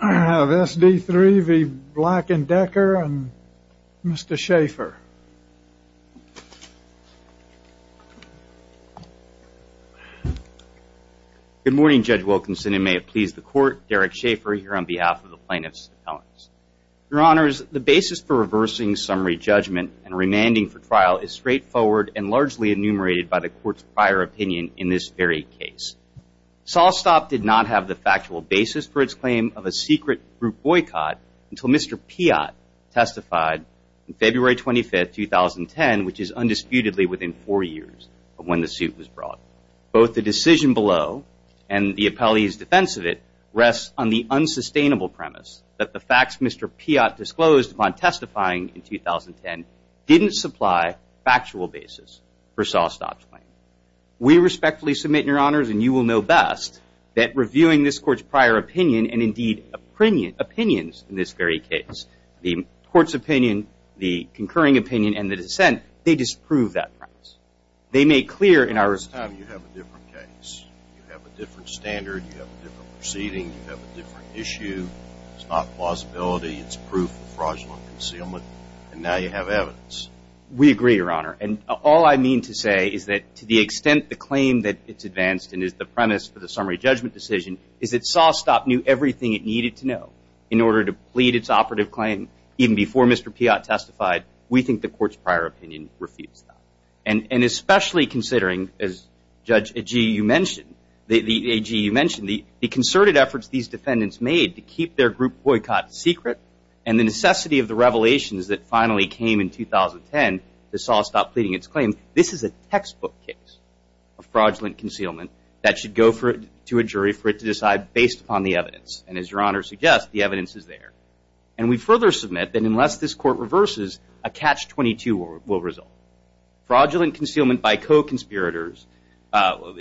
I have SD3 v. Black & Decker, and Mr. Schaefer. Good morning, Judge Wilkinson, and may it please the Court, Derek Schaefer here on behalf of the Plaintiffs' Appellants. Your Honors, the basis for reversing summary judgment and remanding for trial is straightforward and largely enumerated by the Court's prior opinion in this very case. Sawstop did not have the factual basis for its claim of a secret group boycott until Mr. Piott testified on February 25, 2010, which is undisputedly within four years of when the suit was brought. Both the decision below and the appellee's defense of it rests on the unsustainable premise that the facts Mr. Piott disclosed upon testifying in 2010 didn't supply factual basis for Sawstop's claim. We respectfully submit, Your Honors, and you will know best, that reviewing this Court's prior opinion and indeed opinions in this very case, the Court's opinion, the concurring opinion, and the dissent, they disprove that premise. They make clear in our... This time you have a different case. You have a different standard. You have a different proceeding. You have a different issue. It's not plausibility. It's proof of fraudulent concealment. And now you have evidence. We agree, Your Honor. And all I mean to say is that to the extent the claim that it's advanced and is the premise for the summary judgment decision is that Sawstop knew everything it needed to know in order to plead its operative claim even before Mr. Piott testified, we think the Court's prior opinion refutes that. And especially considering, as Judge Agee, you mentioned, the concerted efforts these defendants made to keep their group boycott secret and the necessity of the revelations that finally came in 2010 to Sawstop pleading its claim. This is a textbook case of fraudulent concealment that should go to a jury for it to decide based upon the evidence. And as Your Honor suggests, the evidence is there. And we further submit that unless this Court reverses, a Catch-22 will result. Fraudulent concealment by co-conspirators of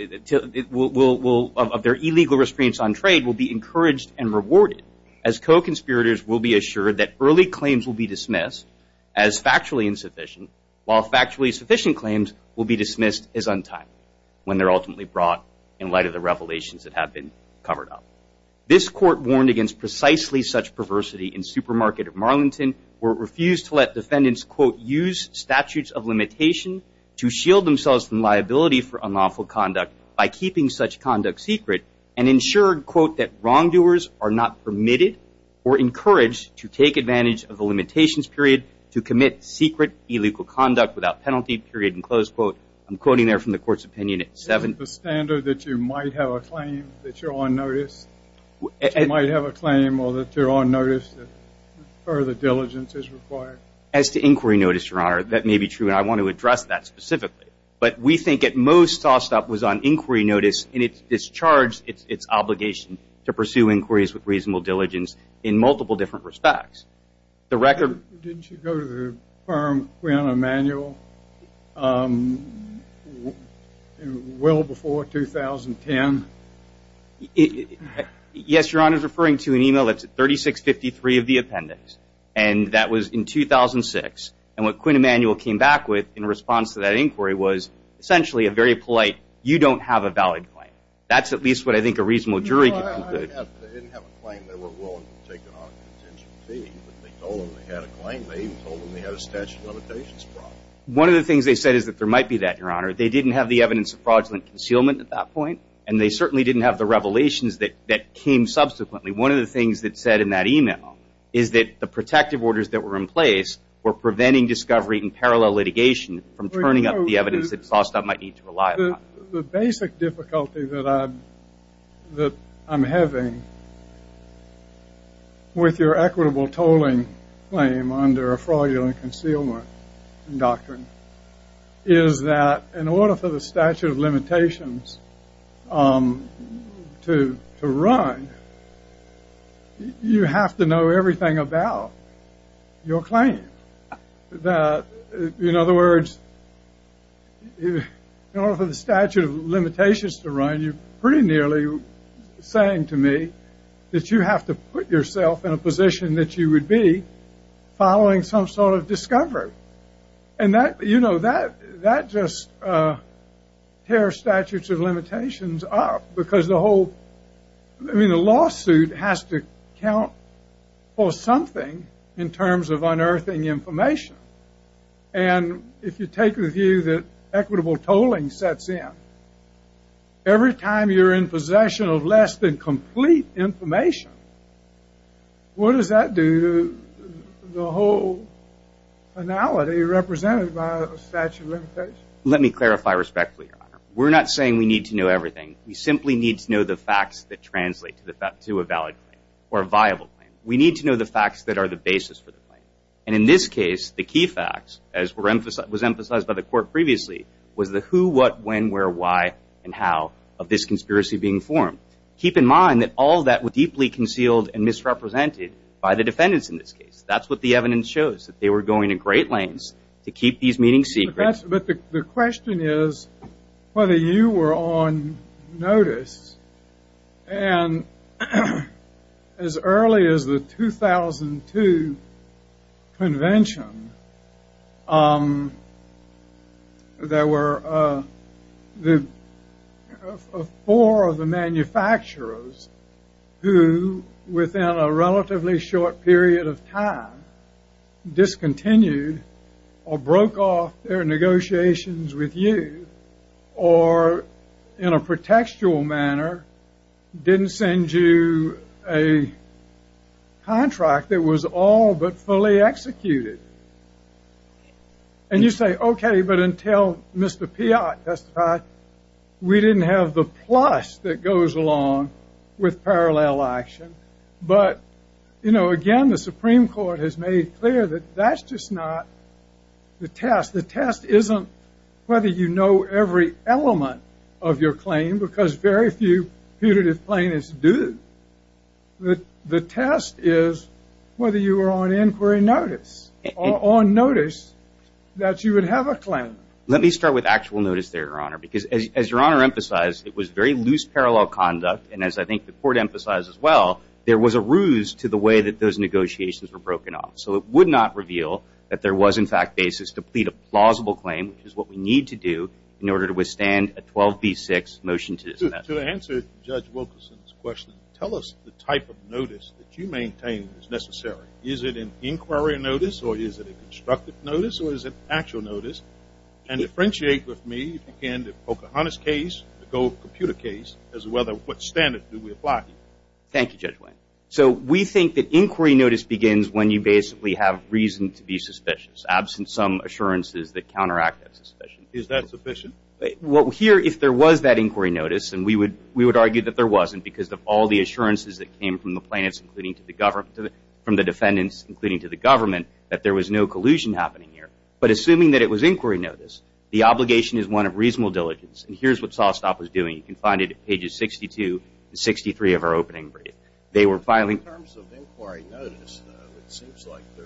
their illegal restraints on trade will be encouraged and rewarded as co-conspirators will be assured that early claims will be dismissed as factually insufficient while factually sufficient claims will be dismissed as untimely when they're ultimately brought in light of the revelations that have been covered up. This Court warned against precisely such perversity in Supermarket of Marlington where it refused to let defendants, quote, use statutes of limitation to shield themselves from liability for unlawful conduct by keeping such conduct secret and ensured, quote, that wrongdoers are not permitted or encouraged to take advantage of the limitations, period, to commit secret illegal conduct without penalty, period, and close, quote. I'm quoting there from the Court's opinion at 7. The standard that you might have a claim, that you're on notice, that you might have a claim or that you're on notice that further diligence is required? As to inquiry notice, Your Honor, that may be true, and I want to address that specifically. But we think it most tossed up was on inquiry notice, and it discharged its obligation to pursue inquiries with reasonable diligence in multiple different respects. Didn't you go to the firm Quinn Emanuel well before 2010? Yes, Your Honor. I was referring to an email that's at 3653 of the appendix, and that was in 2006. And what Quinn Emanuel came back with in response to that inquiry was essentially a very polite, you don't have a valid claim. That's at least what I think a reasonable jury can conclude. They didn't have a claim they were willing to take on a contention fee, but they told them they had a claim. They even told them they had a statute of limitations problem. One of the things they said is that there might be that, Your Honor. They didn't have the evidence of fraudulent concealment at that point, and they certainly didn't have the revelations that came subsequently. One of the things that's said in that email is that the protective orders that were in place were preventing discovery in parallel litigation from turning up the evidence that's tossed up might need to rely on. The basic difficulty that I'm having with your equitable tolling claim under a fraudulent concealment doctrine is that in order for the statute of limitations to run, you have to know everything about your claim. In other words, in order for the statute of limitations to run, you're pretty nearly saying to me that you have to put yourself in a position that you would be following some sort of discovery. That just tears statutes of limitations up because the whole lawsuit has to count for something in terms of unearthing information. If you take the view that equitable tolling sets in, every time you're in possession of less than complete information, what does that do to the whole finality represented by a statute of limitations? Let me clarify respectfully, Your Honor. We're not saying we need to know everything. We simply need to know the facts that translate to a valid claim or a viable claim. We need to know the facts that are the basis for the claim. And in this case, the key facts, as was emphasized by the court previously, was the who, what, when, where, why, and how of this conspiracy being formed. Keep in mind that all of that was deeply concealed and misrepresented by the defendants in this case. That's what the evidence shows, that they were going in great lanes to keep these meetings secret. But the question is whether you were on notice. And as early as the 2002 convention, there were four of the manufacturers who, within a relatively short period of time, discontinued or broke off their negotiations with you. Or, in a pretextual manner, didn't send you a contract that was all but fully executed. And you say, okay, but until Mr. Piott testified, we didn't have the plus that goes along with parallel action. But, you know, again, the Supreme Court has made clear that that's just not the test. The test isn't whether you know every element of your claim, because very few putative plaintiffs do. The test is whether you were on inquiry notice or on notice that you would have a claim. Let me start with actual notice there, Your Honor, because as Your Honor emphasized, it was very loose parallel conduct. And as I think the court emphasized as well, there was a ruse to the way that those negotiations were broken off. So it would not reveal that there was, in fact, basis to plead a plausible claim, which is what we need to do in order to withstand a 12B6 motion to dismiss. To answer Judge Wilkerson's question, tell us the type of notice that you maintain is necessary. Is it an inquiry notice, or is it a constructive notice, or is it actual notice? And differentiate with me, if you can, the Pocahontas case, the gold computer case, as well as what standard do we apply? Thank you, Judge Wayne. So we think that inquiry notice begins when you basically have reason to be suspicious, absent some assurances that counteract that suspicion. Is that sufficient? Well, here, if there was that inquiry notice, and we would argue that there wasn't, because of all the assurances that came from the plaintiffs, including from the defendants, including to the government, that there was no collusion happening here. But assuming that it was inquiry notice, the obligation is one of reasonable diligence. And here's what Sawstopper's doing. You can find it at pages 62 and 63 of our opening. They were filing. In terms of inquiry notice, though, it seems like you're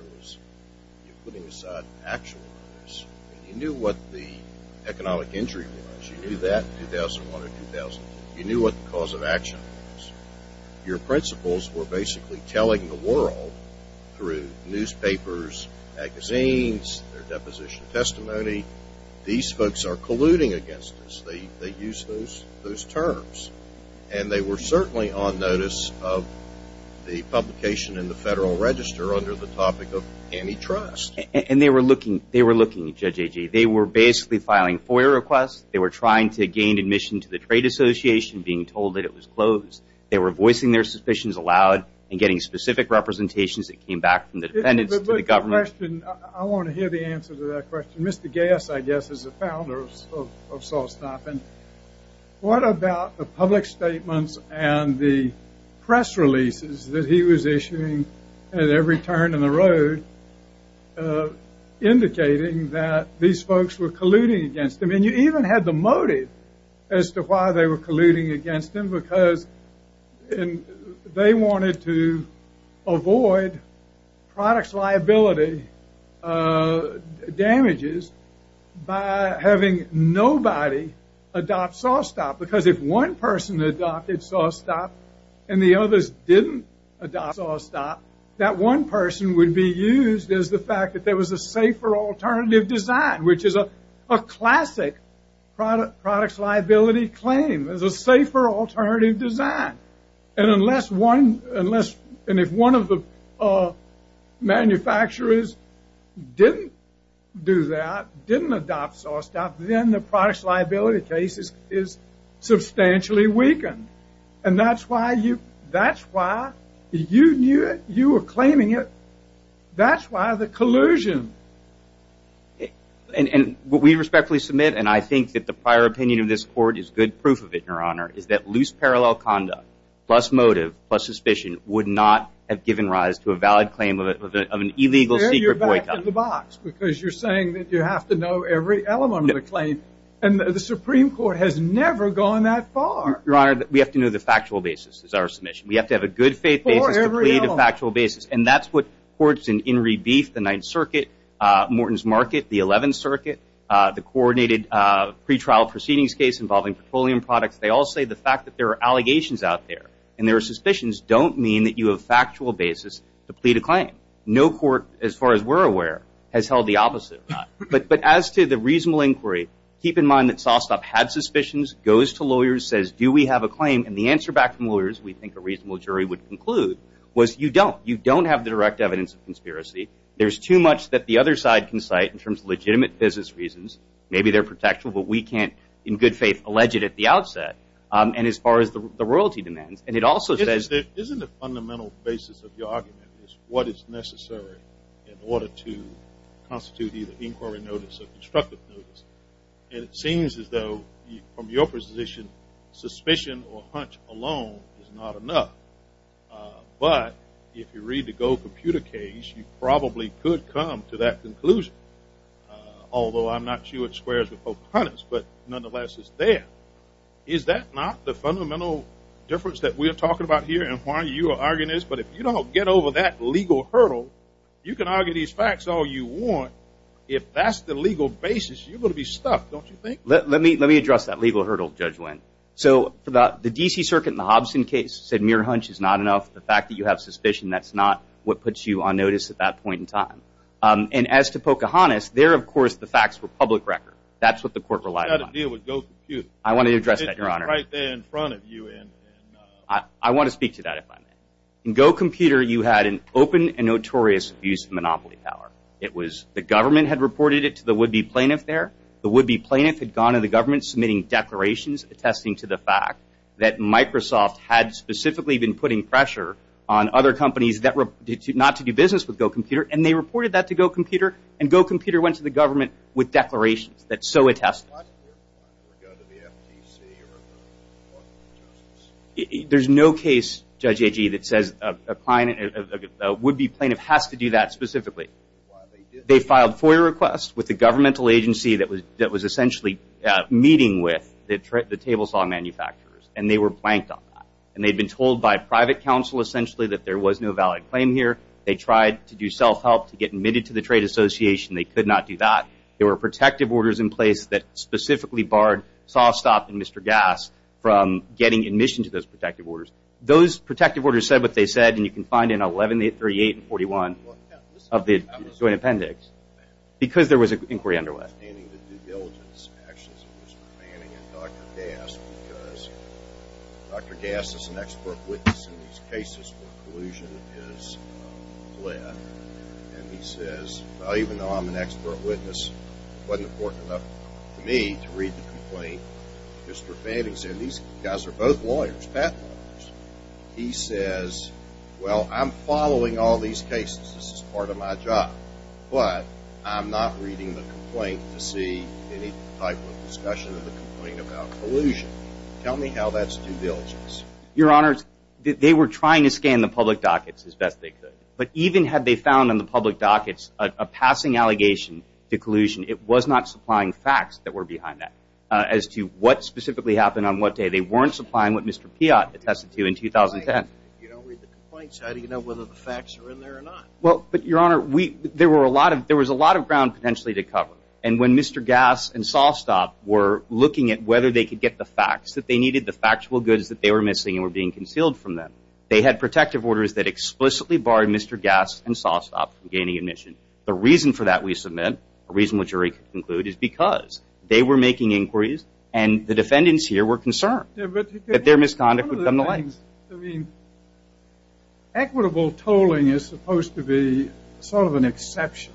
putting aside actual notice. You knew what the economic injury was. You knew that in 2001 or 2000. You knew what the cause of action was. Your principles were basically telling the world through newspapers, magazines, their deposition testimony, these folks are colluding against us. They use those terms. And they were certainly on notice of the publication in the Federal Register under the topic of antitrust. And they were looking, Judge Agee. They were basically filing FOIA requests. They were trying to gain admission to the Trade Association, being told that it was closed. They were voicing their suspicions aloud and getting specific representations that came back from the defendants to the government. I have a question. I want to hear the answer to that question. Mr. Gass, I guess, is the founder of Sawstopper. What about the public statements and the press releases that he was issuing at every turn in the road, indicating that these folks were colluding against him? I mean, you even had the motive as to why they were colluding against him, because they wanted to avoid products liability damages by having nobody adopt Sawstopper. Because if one person adopted Sawstopper and the others didn't adopt Sawstopper, that one person would be used as the fact that there was a safer alternative design, which is a classic products liability claim. There's a safer alternative design. And if one of the manufacturers didn't do that, didn't adopt Sawstopper, then the products liability case is substantially weakened. And that's why you knew it. You were claiming it. That's why the collusion. And what we respectfully submit, and I think that the prior opinion of this Court is good proof of it, Your Honor, is that loose parallel conduct plus motive plus suspicion would not have given rise to a valid claim of an illegal secret boycott. You're back in the box, because you're saying that you have to know every element of the claim. And the Supreme Court has never gone that far. Your Honor, we have to know the factual basis. That's our submission. We have to have a good faith basis to plead a factual basis. And that's what courts in Rebeef, the Ninth Circuit, Morton's Market, the Eleventh Circuit, the coordinated pretrial proceedings case involving petroleum products, they all say the fact that there are allegations out there and there are suspicions don't mean that you have a factual basis to plead a claim. No court, as far as we're aware, has held the opposite. But as to the reasonable inquiry, keep in mind that Sawstop had suspicions, goes to lawyers, says, do we have a claim? And the answer back from lawyers, we think a reasonable jury would conclude, was you don't. You don't have the direct evidence of conspiracy. There's too much that the other side can cite in terms of legitimate business reasons. Maybe they're protectable, but we can't, in good faith, allege it at the outset. And as far as the royalty demands. And it also says- Isn't the fundamental basis of your argument is what is necessary in order to constitute either inquiry notice or constructive notice? And it seems as though, from your position, suspicion or hunch alone is not enough. But if you read the Gold Computer case, you probably could come to that conclusion. Although I'm not sure it squares with Pope Hunter's, but nonetheless, it's there. Is that not the fundamental difference that we are talking about here and why you are arguing this? But if you don't get over that legal hurdle, you can argue these facts all you want. If that's the legal basis, you're going to be stuck, don't you think? Let me address that legal hurdle, Judge Wendt. So the D.C. Circuit in the Hobson case said mere hunch is not enough. The fact that you have suspicion, that's not what puts you on notice at that point in time. And as to Pocahontas, there, of course, the facts were public record. That's what the court relied on. You've got to deal with Gold Computer. I want to address that, Your Honor. It's right there in front of you. I want to speak to that if I may. In Gold Computer, you had an open and notorious abuse of monopoly power. The government had reported it to the would-be plaintiff there. The would-be plaintiff had gone to the government submitting declarations attesting to the fact that Microsoft had specifically been putting pressure on other companies not to do business with Gold Computer. And they reported that to Gold Computer. And Gold Computer went to the government with declarations that so attest to that. Why didn't your client ever go to the FTC or the Department of Justice? There's no case, Judge Agee, that says a would-be plaintiff has to do that specifically. They filed FOIA requests with the governmental agency that was essentially meeting with the table saw manufacturers, and they were blanked on that. And they'd been told by private counsel, essentially, that there was no valid claim here. They tried to do self-help to get admitted to the Trade Association. They could not do that. There were protective orders in place that specifically barred Softstop and Mr. Gas from getting admission to those protective orders. Those protective orders said what they said, and you can find it in 1138 and 1141 of the Joint Appendix, because there was an inquiry under way. Understanding the due diligence actions of Mr. Fanning and Dr. Gas, because Dr. Gas is an expert witness in these cases where collusion is lit, and he says, well, even though I'm an expert witness, it wasn't important enough to me to read the complaint. Mr. Fanning said, these guys are both lawyers, patent lawyers. He says, well, I'm following all these cases. This is part of my job. But I'm not reading the complaint to see any type of discussion of the complaint about collusion. Tell me how that's due diligence. Your Honor, they were trying to scan the public dockets as best they could. But even had they found in the public dockets a passing allegation to collusion, it was not supplying facts that were behind that as to what specifically happened on what day. They weren't supplying what Mr. Piott attested to in 2010. You don't read the complaints. How do you know whether the facts are in there or not? Well, but, Your Honor, there was a lot of ground potentially to cover. And when Mr. Gas and Sawstop were looking at whether they could get the facts that they needed, the factual goods that they were missing and were being concealed from them, they had protective orders that explicitly barred Mr. Gas and Sawstop from gaining admission. The reason for that we submit, the reason the jury concluded, is because they were making inquiries and the defendants here were concerned that their misconduct would come to light. I mean, equitable tolling is supposed to be sort of an exception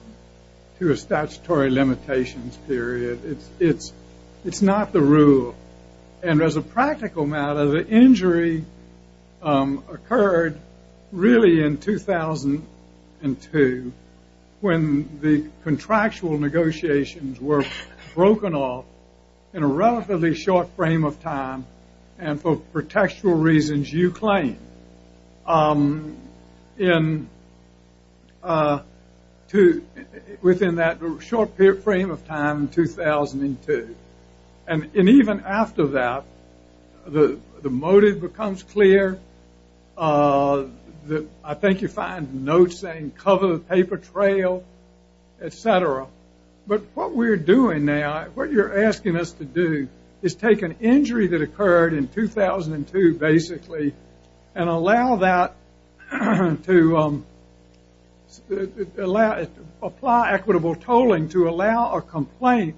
to a statutory limitations period. It's not the rule. And as a practical matter, the injury occurred really in 2002 when the contractual negotiations were broken off in a relatively short frame of time and for contextual reasons, you claim, within that short frame of time in 2002. And even after that, the motive becomes clear. I think you find notes saying cover the paper trail, et cetera. But what we're doing now, what you're asking us to do, is take an injury that occurred in 2002, basically, and allow that to apply equitable tolling to allow a complaint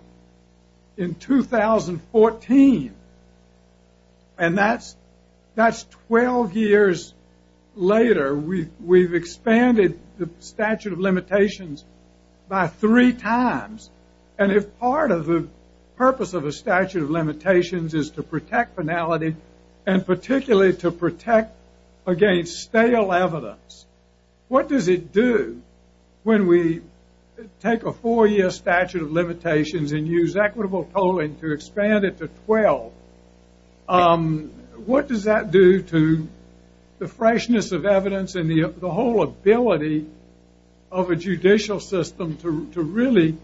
in 2014. And that's 12 years later. We've expanded the statute of limitations by three times. And if part of the purpose of the statute of limitations is to protect finality and particularly to protect against stale evidence, what does it do when we take a four-year statute of limitations and use equitable tolling to expand it to 12? What does that do to the freshness of evidence and the whole ability of a judicial system to really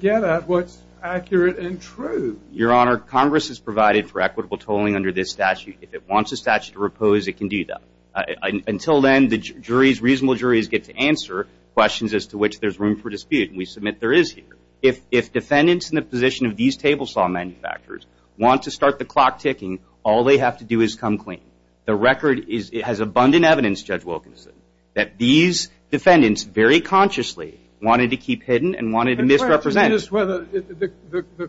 get at what's accurate and true? Your Honor, Congress has provided for equitable tolling under this statute. If it wants a statute to repose, it can do that. Until then, the reasonable juries get to answer questions as to which there's room for dispute, and we submit there is here. If defendants in the position of these table saw manufacturers want to start the clock ticking, all they have to do is come clean. The record has abundant evidence, Judge Wilkinson, that these defendants very consciously wanted to keep hidden and wanted to misrepresent. I'm curious whether the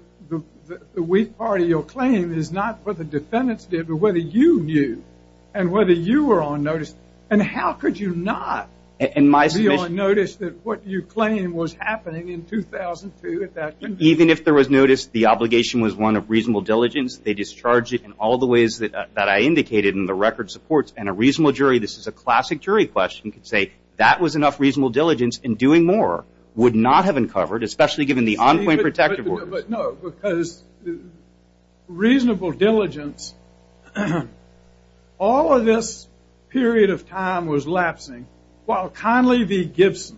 weak part of your claim is not what the defendants did but whether you knew and whether you were on notice. And how could you not be on notice that what you claim was happening in 2002 at that time? Even if there was notice, the obligation was one of reasonable diligence. They discharged it in all the ways that I indicated in the record supports. And a reasonable jury, this is a classic jury question, could say that was enough reasonable diligence, and doing more would not have uncovered, especially given the on-point protective orders. No, because reasonable diligence, all of this period of time was lapsing while Conley v. Gibson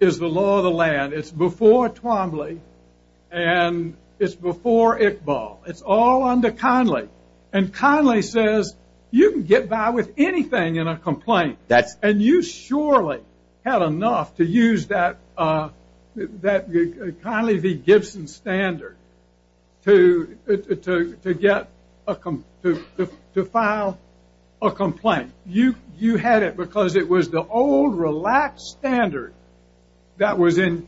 is the law of the land. It's before Twombly, and it's before Iqbal. It's all under Conley. And Conley says, you can get by with anything in a complaint. And you surely had enough to use that Conley v. Gibson standard to file a complaint. You had it because it was the old relaxed standard that was in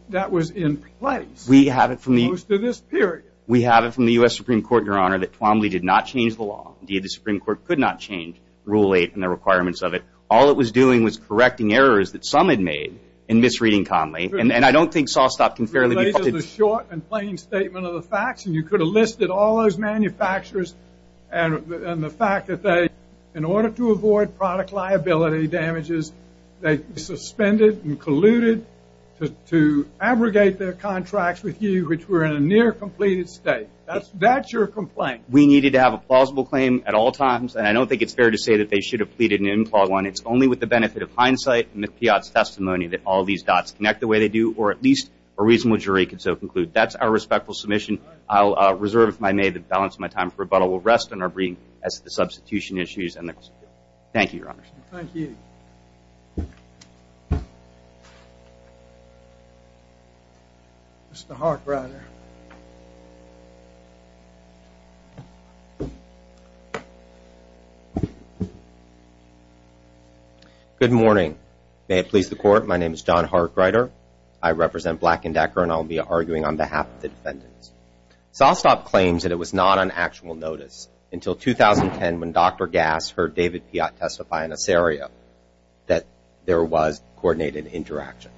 place most of this period. We have it from the U.S. Supreme Court, Your Honor, that Twombly did not change the law. Indeed, the Supreme Court could not change Rule 8 and the requirements of it. All it was doing was correcting errors that some had made in misreading Conley. And I don't think Sawstop can fairly be faulted. Related to the short and plain statement of the facts, and you could have listed all those manufacturers, and the fact that they, in order to avoid product liability damages, they suspended and colluded to abrogate their contracts with you, which were in a near-completed state. That's your complaint. We needed to have a plausible claim at all times, and I don't think it's fair to say that they should have pleaded an implied one. It's only with the benefit of hindsight and McPiat's testimony that all these dots connect the way they do, or at least a reasonable jury could so conclude. That's our respectful submission. I'll reserve, if I may, the balance of my time for rebuttal. We'll rest on our break as to the substitution issues. Thank you, Your Honor. Thank you. Mr. Harkwriter. Good morning. May it please the Court, my name is John Harkwriter. I represent Black & Decker, and I'll be arguing on behalf of the defendants. Sawstop claims that it was not on actual notice until 2010 when Dr. Gass heard David Piat testify in this area, that there was coordinated interaction.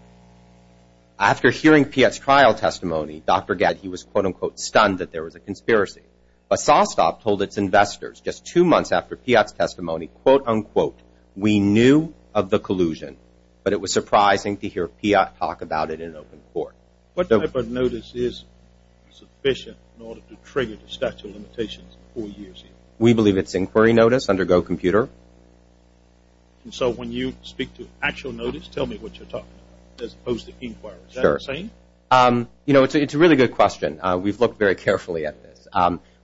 After hearing Piat's trial testimony, Dr. Gatt, he was, quote-unquote, stunned that there was a conspiracy. But Sawstop told its investors just two months after Piat's testimony, quote-unquote, we knew of the collusion, but it was surprising to hear Piat talk about it in open court. What type of notice is sufficient in order to trigger the statute of limitations four years ago? We believe it's inquiry notice under Go Computer. So when you speak to actual notice, tell me what you're talking about, as opposed to inquiry. Is that what you're saying? Sure. You know, it's a really good question. We've looked very carefully at this.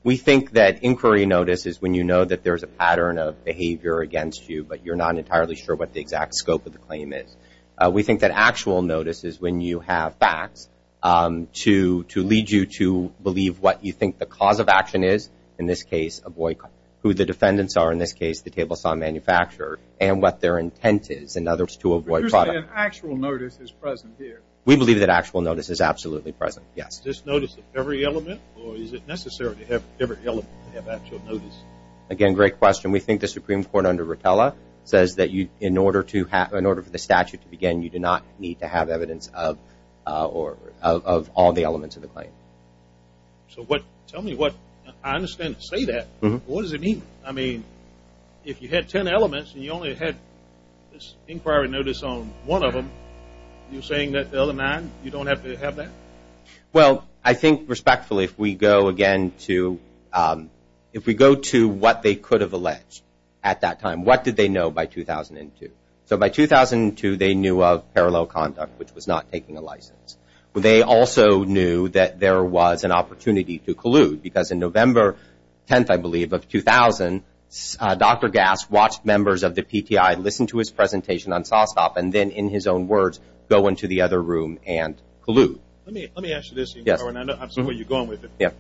We think that inquiry notice is when you know that there's a pattern of behavior against you, but you're not entirely sure what the exact scope of the claim is. We think that actual notice is when you have facts to lead you to believe what you think the cause of action is, in this case avoid who the defendants are, in this case the table saw manufacturer, and what their intent is, in other words, to avoid product. But you're saying actual notice is present here. We believe that actual notice is absolutely present, yes. Is this notice of every element, or is it necessary to have every element to have actual notice? Again, great question. We think the Supreme Court under Rotella says that in order for the statute to begin, you do not need to have evidence of all the elements of the claim. So what, tell me what, I understand to say that, but what does it mean? I mean, if you had ten elements and you only had this inquiry notice on one of them, you're saying that the other nine, you don't have to have that? Well, I think respectfully, if we go again to, if we go to what they could have alleged at that time, what did they know by 2002? So by 2002, they knew of parallel conduct, which was not taking a license. They also knew that there was an opportunity to collude, because in November 10th, I believe, of 2000, Dr. Gass watched members of the PTI listen to his presentation on SOSOP, and then in his own words, go into the other room and collude. Let me ask you this. Yes. I'm sorry, you're going with it. Yes.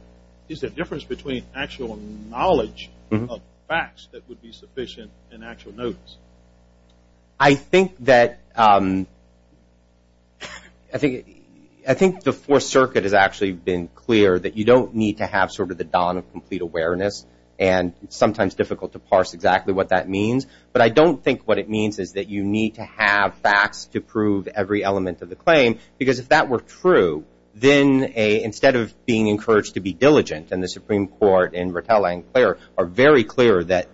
Is there a difference between actual knowledge of facts that would be sufficient and actual notice? I think that the Fourth Circuit has actually been clear that you don't need to have sort of the don of complete awareness, and it's sometimes difficult to parse exactly what that means, but I don't think what it means is that you need to have facts to prove every element of the claim, because if that were true, then instead of being encouraged to be diligent, and the Supreme Court and Rattel and Clair are very clear that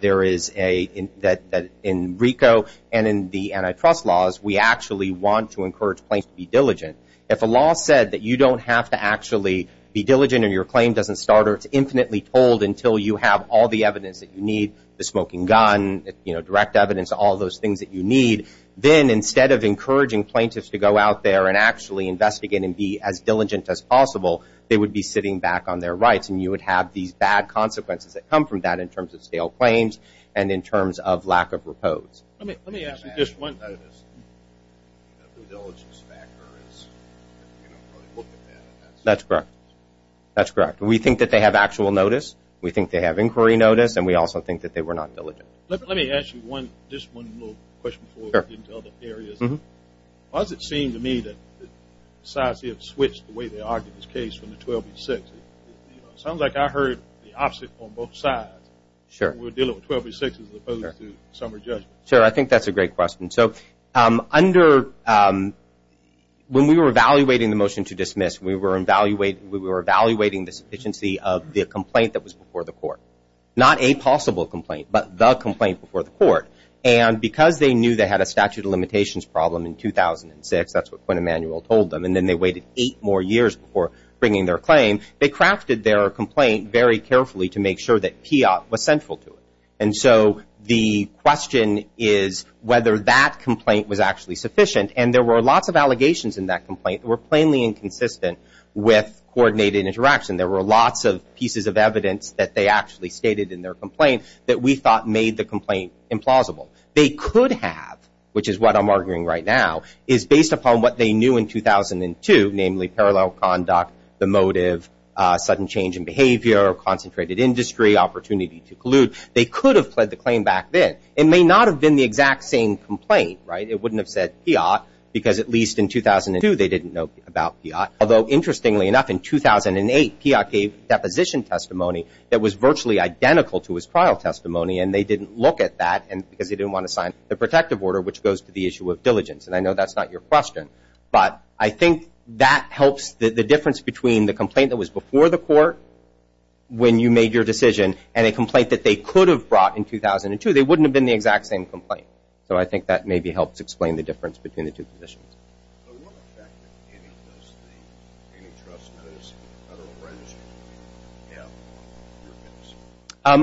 in RICO and in the antitrust laws, we actually want to encourage plaintiffs to be diligent. If a law said that you don't have to actually be diligent and your claim doesn't start or it's infinitely told until you have all the evidence that you need, the smoking gun, direct evidence, all those things that you need, then instead of encouraging plaintiffs to go out there and actually investigate and be as diligent as possible, they would be sitting back on their rights, and you would have these bad consequences that come from that in terms of stale claims and in terms of lack of repose. Let me ask you just one thing. That's correct. That's correct. We think that they have actual notice. We think they have inquiry notice, and we also think that they were not diligent. Let me ask you just one little question before we get into other areas. Why does it seem to me that the decisive switch, the way they argued this case from the 12-6, it sounds like I heard the opposite on both sides. We're dealing with 12-6 as opposed to summary judgment. I think that's a great question. When we were evaluating the motion to dismiss, we were evaluating the sufficiency of the complaint that was before the court. Not a possible complaint, but the complaint before the court. And because they knew they had a statute of limitations problem in 2006, that's what Quinn Emanuel told them, and then they waited eight more years before bringing their claim, they crafted their complaint very carefully to make sure that PIAT was central to it. And so the question is whether that complaint was actually sufficient. And there were lots of allegations in that complaint that were plainly inconsistent with coordinated interaction. There were lots of pieces of evidence that they actually stated in their complaint that we thought made the complaint implausible. They could have, which is what I'm arguing right now, is based upon what they knew in 2002, namely parallel conduct, the motive, sudden change in behavior, concentrated industry, opportunity to collude. They could have pled the claim back then. It may not have been the exact same complaint. It wouldn't have said PIAT because at least in 2002 they didn't know about PIAT. Although, interestingly enough, in 2008 PIAT gave deposition testimony that was virtually identical to his trial testimony, and they didn't look at that because they didn't want to sign the protective order, which goes to the issue of diligence, and I know that's not your question. But I think that helps the difference between the complaint that was before the court when you made your decision and a complaint that they could have brought in 2002. They wouldn't have been the exact same complaint. So I think that maybe helps explain the difference between the two positions. So what effect does the training trust notice in the Federal Register have on your case?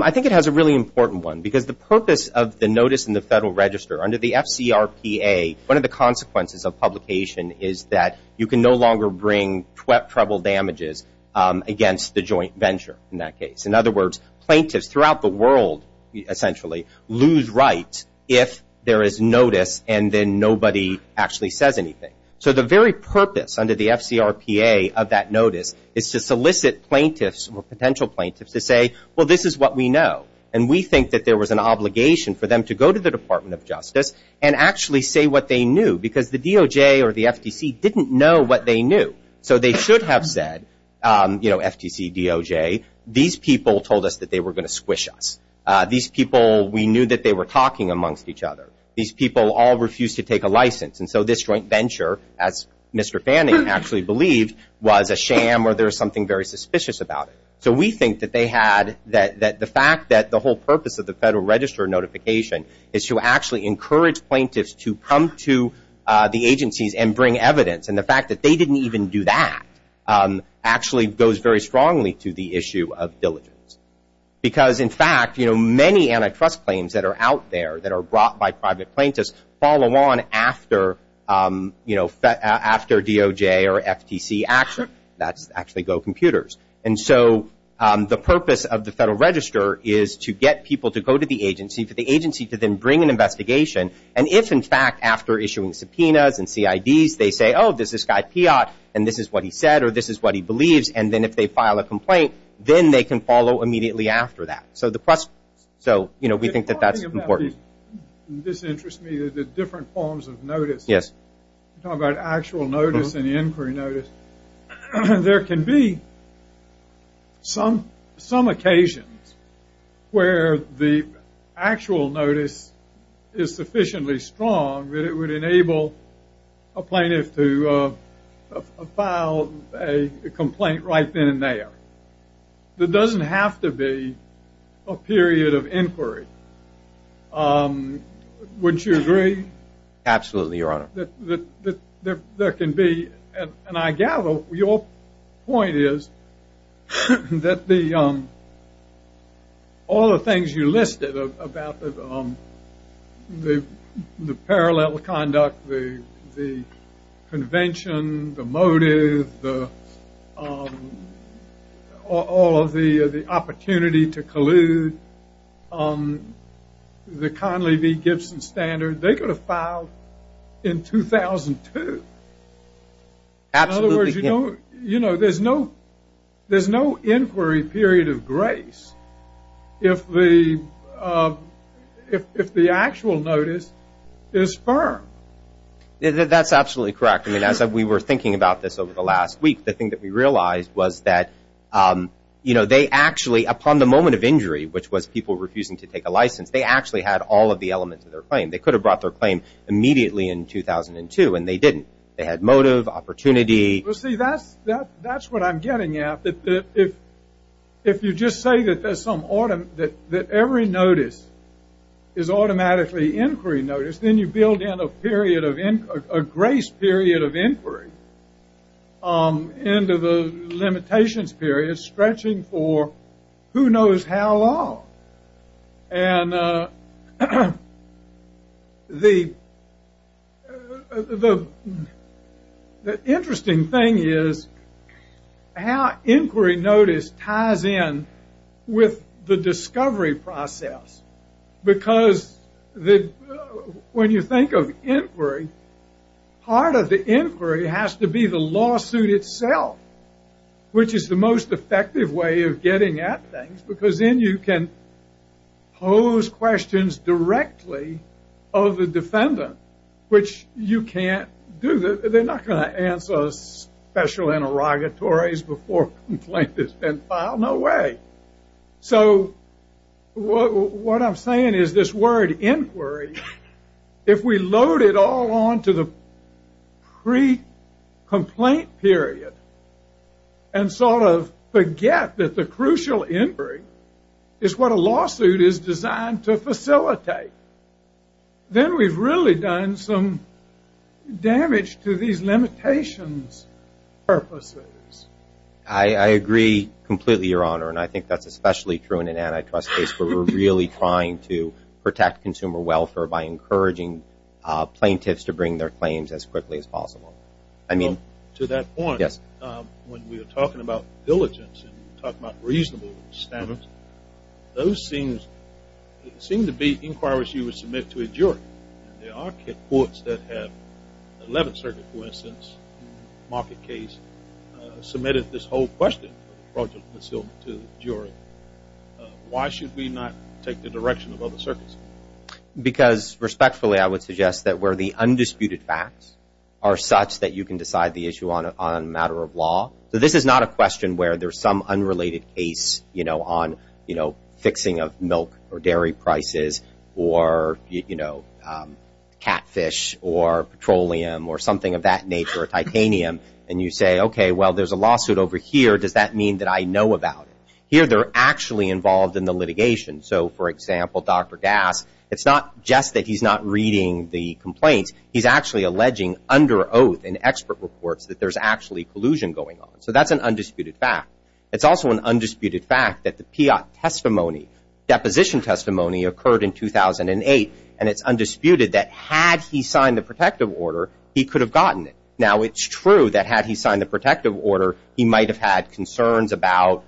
I think it has a really important one because the purpose of the notice in the Federal Register under the FCRPA, one of the consequences of publication is that you can no longer bring treble damages against the joint venture in that case. In other words, plaintiffs throughout the world essentially lose rights if there is notice and then nobody actually says anything. So the very purpose under the FCRPA of that notice is to solicit plaintiffs or potential plaintiffs to say, well, this is what we know, and we think that there was an obligation for them to go to the Department of Justice and actually say what they knew because the DOJ or the FTC didn't know what they knew. So they should have said, you know, FTC, DOJ, these people told us that they were going to squish us. These people, we knew that they were talking amongst each other. These people all refused to take a license, and so this joint venture, as Mr. Fanning actually believed, was a sham or there was something very suspicious about it. So we think that they had that the fact that the whole purpose of the Federal Register notification is to actually encourage plaintiffs to come to the agencies and bring evidence, and the fact that they didn't even do that actually goes very strongly to the issue of diligence. Because, in fact, you know, many antitrust claims that are out there that are brought by private plaintiffs follow on after, you know, after DOJ or FTC action. That's actually go computers. And so the purpose of the Federal Register is to get people to go to the agency, for the agency to then bring an investigation, and if, in fact, after issuing subpoenas and CIDs, they say, oh, this is Guy Piat, and this is what he said or this is what he believes, and then if they file a complaint, then they can follow immediately after that. So, you know, we think that that's important. This interests me, the different forms of notice. Yes. You talk about actual notice and inquiry notice. There can be some occasions where the actual notice is sufficiently strong that it would enable a plaintiff to file a complaint right then and there. It doesn't have to be a period of inquiry. Would you agree? Absolutely, Your Honor. There can be, and I gather your point is that all the things you listed about the parallel conduct, the convention, the motive, all of the opportunity to collude, the Conley v. Gibson standard, they could have filed in 2002. In other words, you know, there's no inquiry period of grace if the actual notice is firm. That's absolutely correct. I mean, as we were thinking about this over the last week, the thing that we realized was that, you know, they actually, upon the moment of injury, which was people refusing to take a license, they actually had all of the elements of their claim. They could have brought their claim immediately in 2002, and they didn't. They had motive, opportunity. Well, see, that's what I'm getting at, that if you just say that every notice is automatically inquiry notice, then you build in a grace period of inquiry into the limitations period stretching for who knows how long. And the interesting thing is how inquiry notice ties in with the discovery process, because when you think of inquiry, part of the inquiry has to be the lawsuit itself, which is the most effective way of getting at things, because then you can pose questions directly of the defendant, which you can't do. They're not going to answer special interrogatories before a complaint has been filed. No way. So what I'm saying is this word inquiry, if we load it all onto the pre-complaint period and sort of forget that the crucial inquiry is what a lawsuit is designed to facilitate, then we've really done some damage to these limitations purposes. I agree completely, Your Honor, and I think that's especially true in an antitrust case where we're really trying to protect consumer welfare by encouraging plaintiffs to bring their claims as quickly as possible. To that point, when we are talking about diligence and talking about reasonable standards, those seem to be inquiries you would submit to a jury. There are courts that have 11th Circuit, for instance, market case submitted this whole question to the jury. Why should we not take the direction of other circuits? Because respectfully, I would suggest that where the undisputed facts are such that you can decide the issue on a matter of law. So this is not a question where there's some unrelated case on fixing of milk or dairy prices or catfish or petroleum or something of that nature or titanium, and you say, okay, well, there's a lawsuit over here. Does that mean that I know about it? Here they're actually involved in the litigation. So, for example, Dr. Gass, it's not just that he's not reading the complaints. He's actually alleging under oath in expert reports that there's actually collusion going on. So that's an undisputed fact. It's also an undisputed fact that the PIAT testimony, deposition testimony, occurred in 2008, and it's undisputed that had he signed the protective order, he could have gotten it. Now, it's true that had he signed the protective order, he might have had concerns about,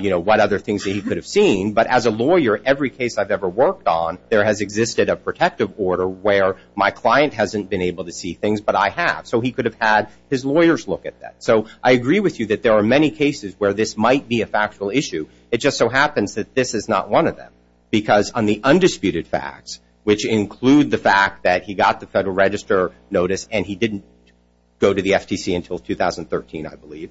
you know, what other things that he could have seen, but as a lawyer, every case I've ever worked on, there has existed a protective order where my client hasn't been able to see things, but I have. So he could have had his lawyers look at that. So I agree with you that there are many cases where this might be a factual issue. It just so happens that this is not one of them because on the undisputed facts, which include the fact that he got the Federal Register notice and he didn't go to the FTC until 2013, I believe,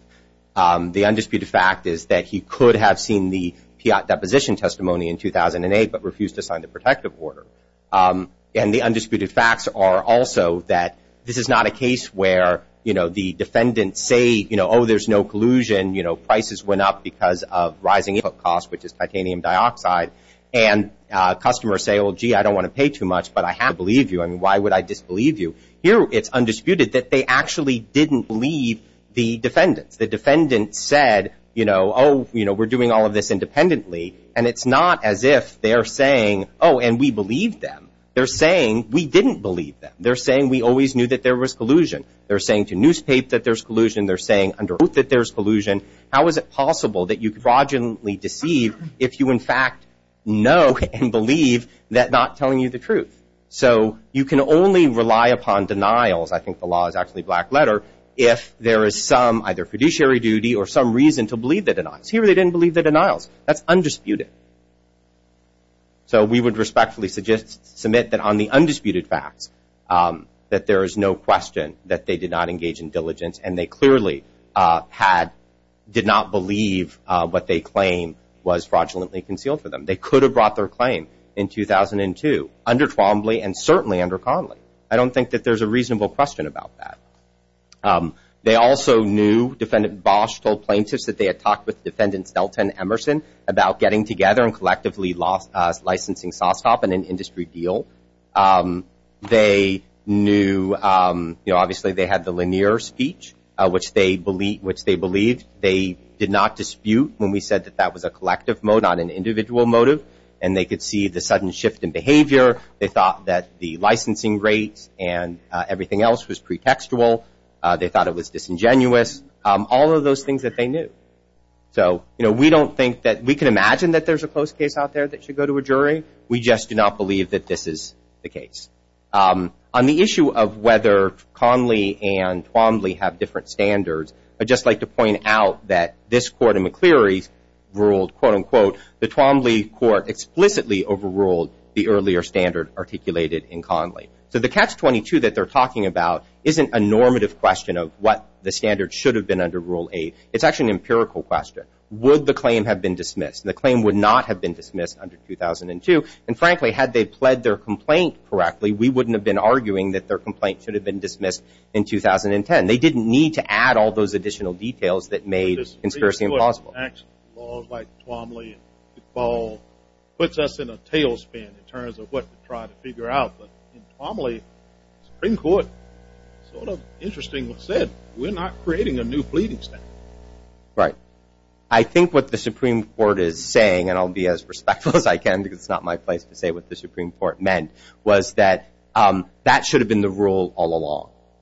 the undisputed fact is that he could have seen the PIAT deposition testimony in 2008 but refused to sign the protective order. And the undisputed facts are also that this is not a case where, you know, the defendants say, you know, oh, there's no collusion, you know, prices went up because of rising input costs, which is titanium dioxide, and customers say, well, gee, I don't want to pay too much, but I have to believe you. I mean, why would I disbelieve you? Here it's undisputed that they actually didn't believe the defendants. The defendants said, you know, oh, you know, we're doing all of this independently, and it's not as if they're saying, oh, and we believe them. They're saying we didn't believe them. They're saying we always knew that there was collusion. They're saying to newspapers that there's collusion. They're saying under oath that there's collusion. How is it possible that you could fraudulently deceive if you, in fact, know and believe that not telling you the truth? So you can only rely upon denials, I think the law is actually black letter, if there is some either fiduciary duty or some reason to believe the denials. Here they didn't believe the denials. That's undisputed. So we would respectfully submit that on the undisputed facts that there is no question that they did not engage in diligence, and they clearly did not believe what they claim was fraudulently concealed for them. They could have brought their claim in 2002 under Twombly and certainly under Conley. I don't think that there's a reasonable question about that. They also knew, Defendant Bosch told plaintiffs that they had talked with Defendant Stelton Emerson about getting together and collectively licensing SOSOP in an industry deal. They knew, you know, obviously they had the Lanier speech, which they believed. They did not dispute when we said that that was a collective motive, not an individual motive, They thought that the licensing rates and everything else was pretextual. They thought it was disingenuous. All of those things that they knew. So, you know, we don't think that we can imagine that there's a close case out there that should go to a jury. We just do not believe that this is the case. On the issue of whether Conley and Twombly have different standards, I'd just like to point out that this Court in McCleary ruled, quote, unquote, the Twombly Court explicitly overruled the earlier standard articulated in Conley. So the Catch-22 that they're talking about isn't a normative question of what the standard should have been under Rule 8. It's actually an empirical question. Would the claim have been dismissed? The claim would not have been dismissed under 2002. And frankly, had they pled their complaint correctly, we wouldn't have been arguing that their complaint should have been dismissed in 2010. They didn't need to add all those additional details that made conspiracy impossible. Actual laws like Twombly and McFaul puts us in a tailspin in terms of what to try to figure out. But in Twombly, Supreme Court sort of interestingly said, we're not creating a new pleading standard. Right. I think what the Supreme Court is saying, and I'll be as respectful as I can because it's not my place to say what the Supreme Court meant, was that that should have been the rule all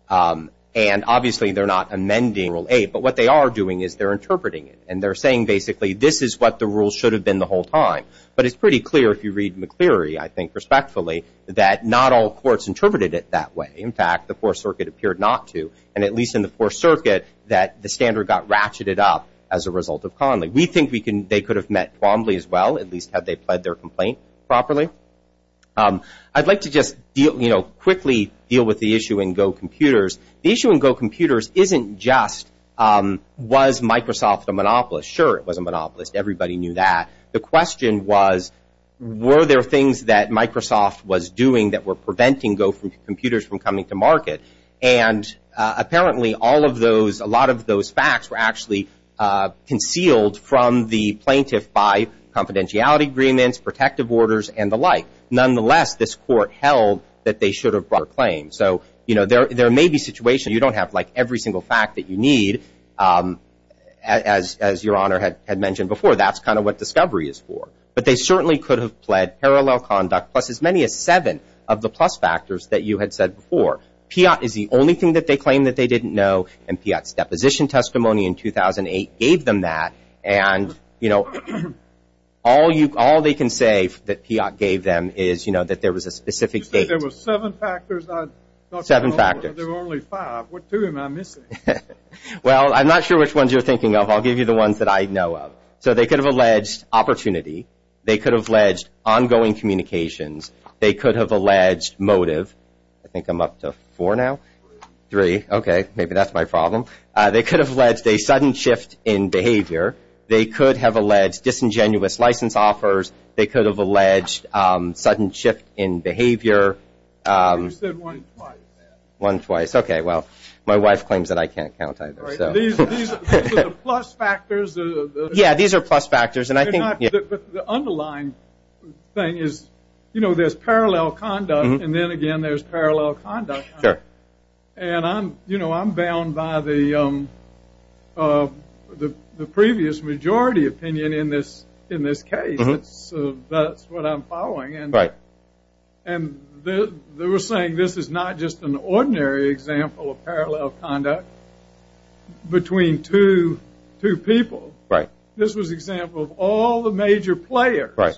along. And obviously they're not amending Rule 8, but what they are doing is they're interpreting it. And they're saying basically this is what the rule should have been the whole time. But it's pretty clear if you read McCleary, I think respectfully, that not all courts interpreted it that way. In fact, the Fourth Circuit appeared not to. And at least in the Fourth Circuit, that the standard got ratcheted up as a result of Conley. We think they could have met Twombly as well, at least had they pled their complaint properly. I'd like to just quickly deal with the issue in Go Computers. The issue in Go Computers isn't just was Microsoft a monopolist. Sure, it was a monopolist. Everybody knew that. The question was, were there things that Microsoft was doing that were preventing Go Computers from coming to market? And apparently all of those, a lot of those facts were actually concealed from the plaintiff by confidentiality agreements, protective orders, and the like. Nonetheless, this court held that they should have brought their claim. So, you know, there may be situations you don't have, like, every single fact that you need. As Your Honor had mentioned before, that's kind of what discovery is for. But they certainly could have pled parallel conduct plus as many as seven of the plus factors that you had said before. PIAT is the only thing that they claim that they didn't know, and PIAT's deposition testimony in 2008 gave them that. And, you know, all they can say that PIAT gave them is, you know, that there was a specific date. There were seven factors. Seven factors. There were only five. What two am I missing? Well, I'm not sure which ones you're thinking of. I'll give you the ones that I know of. So they could have alleged opportunity. They could have alleged ongoing communications. They could have alleged motive. I think I'm up to four now. Three. Okay. Maybe that's my problem. They could have alleged a sudden shift in behavior. They could have alleged disingenuous license offers. They could have alleged sudden shift in behavior. You said one twice. One twice. Okay. Well, my wife claims that I can't count either. These are the plus factors. Yeah, these are plus factors. But the underlying thing is, you know, there's parallel conduct, and then again there's parallel conduct. Sure. And, you know, I'm bound by the previous majority opinion in this case. That's what I'm following. Right. And they were saying this is not just an ordinary example of parallel conduct between two people. Right. This was an example of all the major players. Right.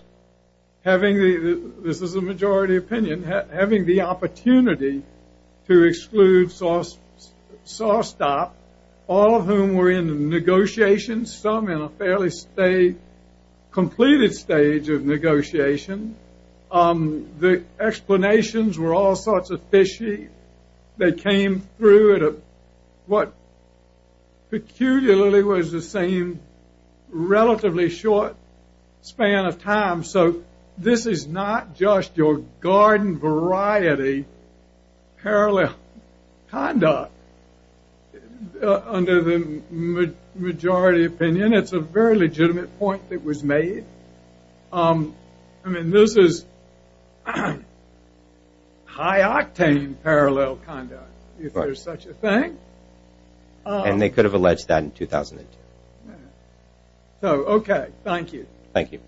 This is the majority opinion. Having the opportunity to exclude Sawstop, all of whom were in negotiations, some in a fairly completed stage of negotiation. The explanations were all sorts of fishy. They came through at what peculiarly was the same relatively short span of time. So this is not just your garden variety parallel conduct under the majority opinion. It's a very legitimate point that was made. I mean, this is high-octane parallel conduct, if there's such a thing. And they could have alleged that in 2002. So, okay. Thank you. Thank you.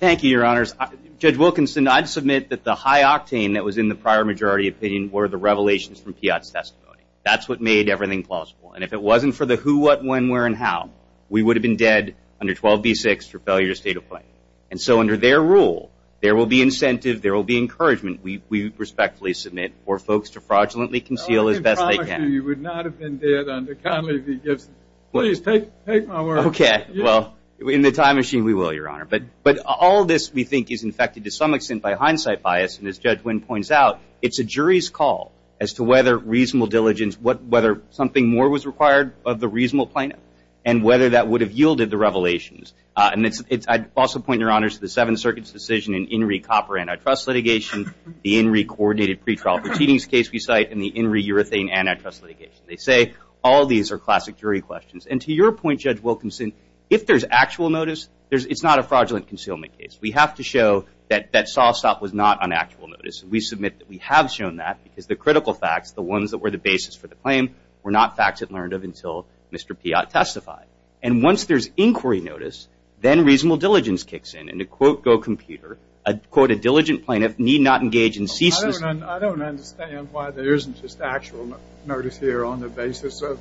Thank you, Your Honors. Judge Wilkinson, I'd submit that the high-octane that was in the prior majority opinion were the revelations from Piotr's testimony. That's what made everything plausible. And if it wasn't for the who, what, when, where, and how, we would have been dead under 12b-6 for failure to state a claim. And so under their rule, there will be incentive, there will be encouragement, we respectfully submit, for folks to fraudulently conceal as best they can. I can promise you you would not have been dead under Conley v. Gibson. Please, take my word for it. Okay. Well, in the time machine, we will, Your Honor. But all this, we think, is infected to some extent by hindsight bias. And as Judge Wynn points out, it's a jury's call as to whether reasonable diligence, whether something more was required of the reasonable plaintiff, and whether that would have yielded the revelations. And I'd also point, Your Honors, to the Seventh Circuit's decision in INRI copper antitrust litigation, the INRI coordinated pretrial proceedings case we cite, and the INRI urethane antitrust litigation. They say all these are classic jury questions. And to your point, Judge Wilkinson, if there's actual notice, it's not a fraudulent concealment case. We have to show that Sawstop was not on actual notice. And we submit that we have shown that because the critical facts, the ones that were the basis for the claim, were not facts it learned of until Mr. Piott testified. And once there's inquiry notice, then reasonable diligence kicks in. And to quote Go Computer, I'd quote a diligent plaintiff, need not engage in ceases. I don't understand why there isn't just actual notice here on the basis of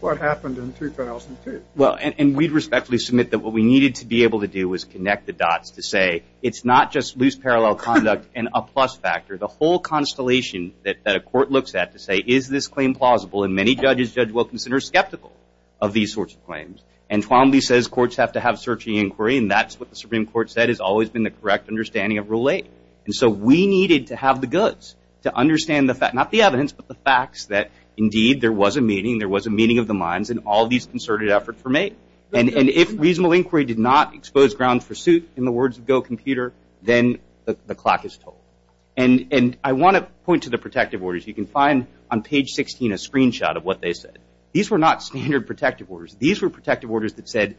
what happened in 2002. Well, and we'd respectfully submit that what we needed to be able to do was connect the dots to say, it's not just loose parallel conduct and a plus factor. The whole constellation that a court looks at to say, is this claim plausible? And many judges, Judge Wilkinson, are skeptical of these sorts of claims. And Twombly says courts have to have searching inquiry, and that's what the Supreme Court said has always been the correct understanding of Rule 8. And so we needed to have the goods to understand the fact, not the evidence, but the facts that indeed there was a meeting, there was a meeting of the minds, and all these concerted efforts were made. And if reasonable inquiry did not expose grounds for suit, in the words of Go Computer, then the clock is tolled. And I want to point to the protective orders. You can find on page 16 a screenshot of what they said. These were not standard protective orders. These were protective orders that said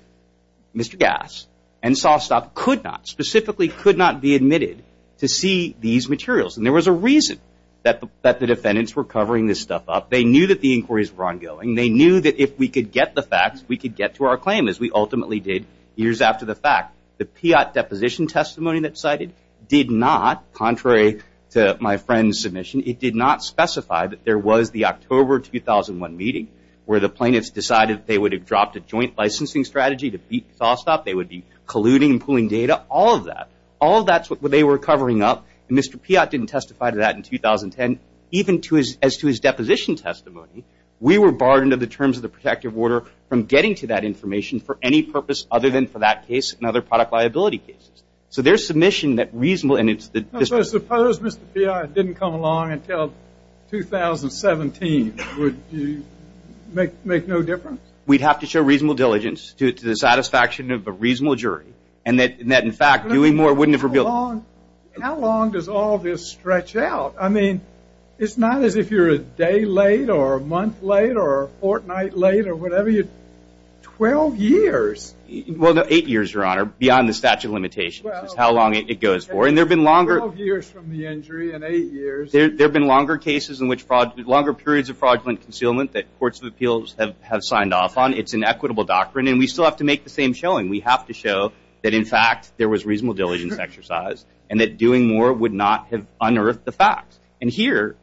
Mr. Gass and Sawstop could not, specifically could not be admitted to see these materials. And there was a reason that the defendants were covering this stuff up. They knew that the inquiries were ongoing. They knew that if we could get the facts, we could get to our claim, as we ultimately did years after the fact. The PIAT deposition testimony that's cited did not, contrary to my friend's submission, it did not specify that there was the October 2001 meeting where the plaintiffs decided they would have dropped a joint licensing strategy to beat Sawstop. They would be colluding and pooling data. All of that, all of that's what they were covering up, and Mr. PIAT didn't testify to that in 2010, even as to his deposition testimony. We were barred under the terms of the protective order from getting to that information for any purpose other than for that case and other product liability cases. So their submission that reasonable – Suppose Mr. PIAT didn't come along until 2017. Would you make no difference? We'd have to show reasonable diligence to the satisfaction of a reasonable jury, and that, in fact, doing more wouldn't have revealed – How long does all this stretch out? I mean, it's not as if you're a day late or a month late or a fortnight late or whatever. Twelve years. Well, no, eight years, Your Honor, beyond the statute of limitations is how long it goes for, and there have been longer – Twelve years from the injury and eight years – There have been longer cases in which – longer periods of fraudulent concealment that courts of appeals have signed off on. It's an equitable doctrine, and we still have to make the same showing. We have to show that, in fact, there was reasonable diligence exercised and that doing more would not have unearthed the facts. And here,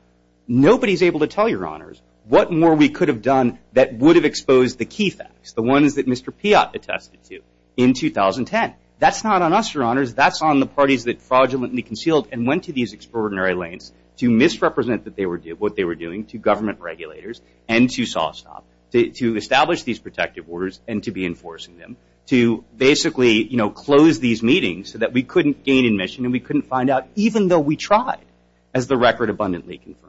nobody is able to tell you, Your Honors, what more we could have done that would have exposed the key facts, the ones that Mr. PIAT attested to in 2010. That's not on us, Your Honors. That's on the parties that fraudulently concealed and went to these extraordinary lengths to misrepresent what they were doing to government regulators and to SawStop, to establish these protective orders and to be enforcing them, to basically close these meetings so that we couldn't gain admission and we couldn't find out, even though we tried, as the record abundantly confirms.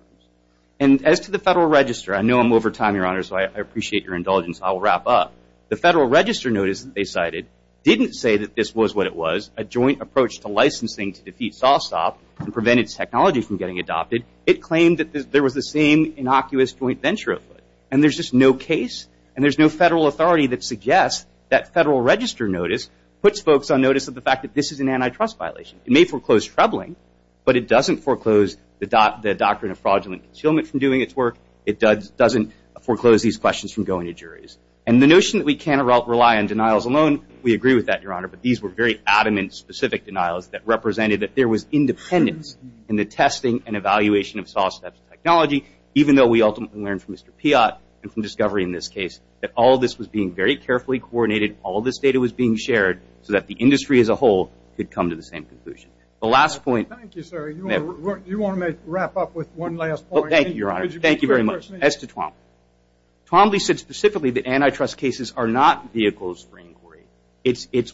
And as to the Federal Register, I know I'm over time, Your Honor, so I appreciate your indulgence, so I'll wrap up. The Federal Register notice that they cited didn't say that this was what it was, a joint approach to licensing to defeat SawStop and prevent its technology from getting adopted. It claimed that there was the same innocuous joint venture afoot. And there's just no case and there's no federal authority that suggests that Federal Register notice puts folks on notice of the fact that this is an antitrust violation. It may foreclose troubling, but it doesn't foreclose the doctrine of fraudulent concealment from doing its work. It doesn't foreclose these questions from going to juries. And the notion that we can't rely on denials alone, we agree with that, Your Honor, but these were very adamant, specific denials that represented that there was independence in the testing and evaluation of SawStop's technology, even though we ultimately learned from Mr. Piott and from discovery in this case that all this was being very carefully coordinated, all this data was being shared, so that the industry as a whole could come to the same conclusion. The last point. Thank you, sir. You want to wrap up with one last point? Thank you, Your Honor. Thank you very much. It's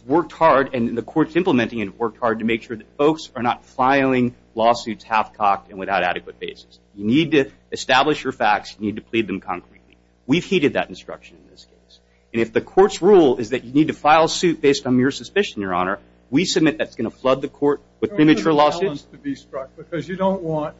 worked hard, and the court's implementing it, worked hard to make sure that folks are not filing lawsuits half-cocked and without adequate basis. You need to establish your facts. You need to plead them concretely. We've heeded that instruction in this case. And if the court's rule is that you need to file a suit based on mere suspicion, Your Honor, we submit that's going to flood the court with premature lawsuits. There's a balance to be struck because you don't want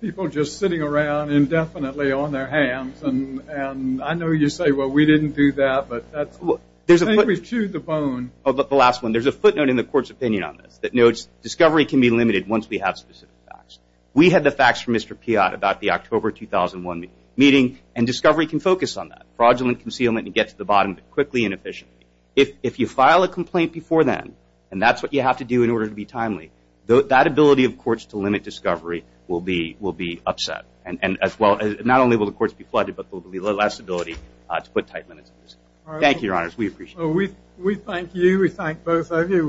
people just sitting around indefinitely on their hands. And I know you say, well, we didn't do that, but that's – I think we've chewed the bone. The last one. There's a footnote in the court's opinion on this that notes discovery can be limited once we have specific facts. We had the facts from Mr. Piatt about the October 2001 meeting, and discovery can focus on that. Fraudulent concealment can get to the bottom quickly and efficiently. If you file a complaint before then, and that's what you have to do in order to be timely, that ability of courts to limit discovery will be upset. And not only will the courts be flooded, but there will be less ability to put tight limits. Thank you, Your Honor. We appreciate it. We thank you. We thank both of you.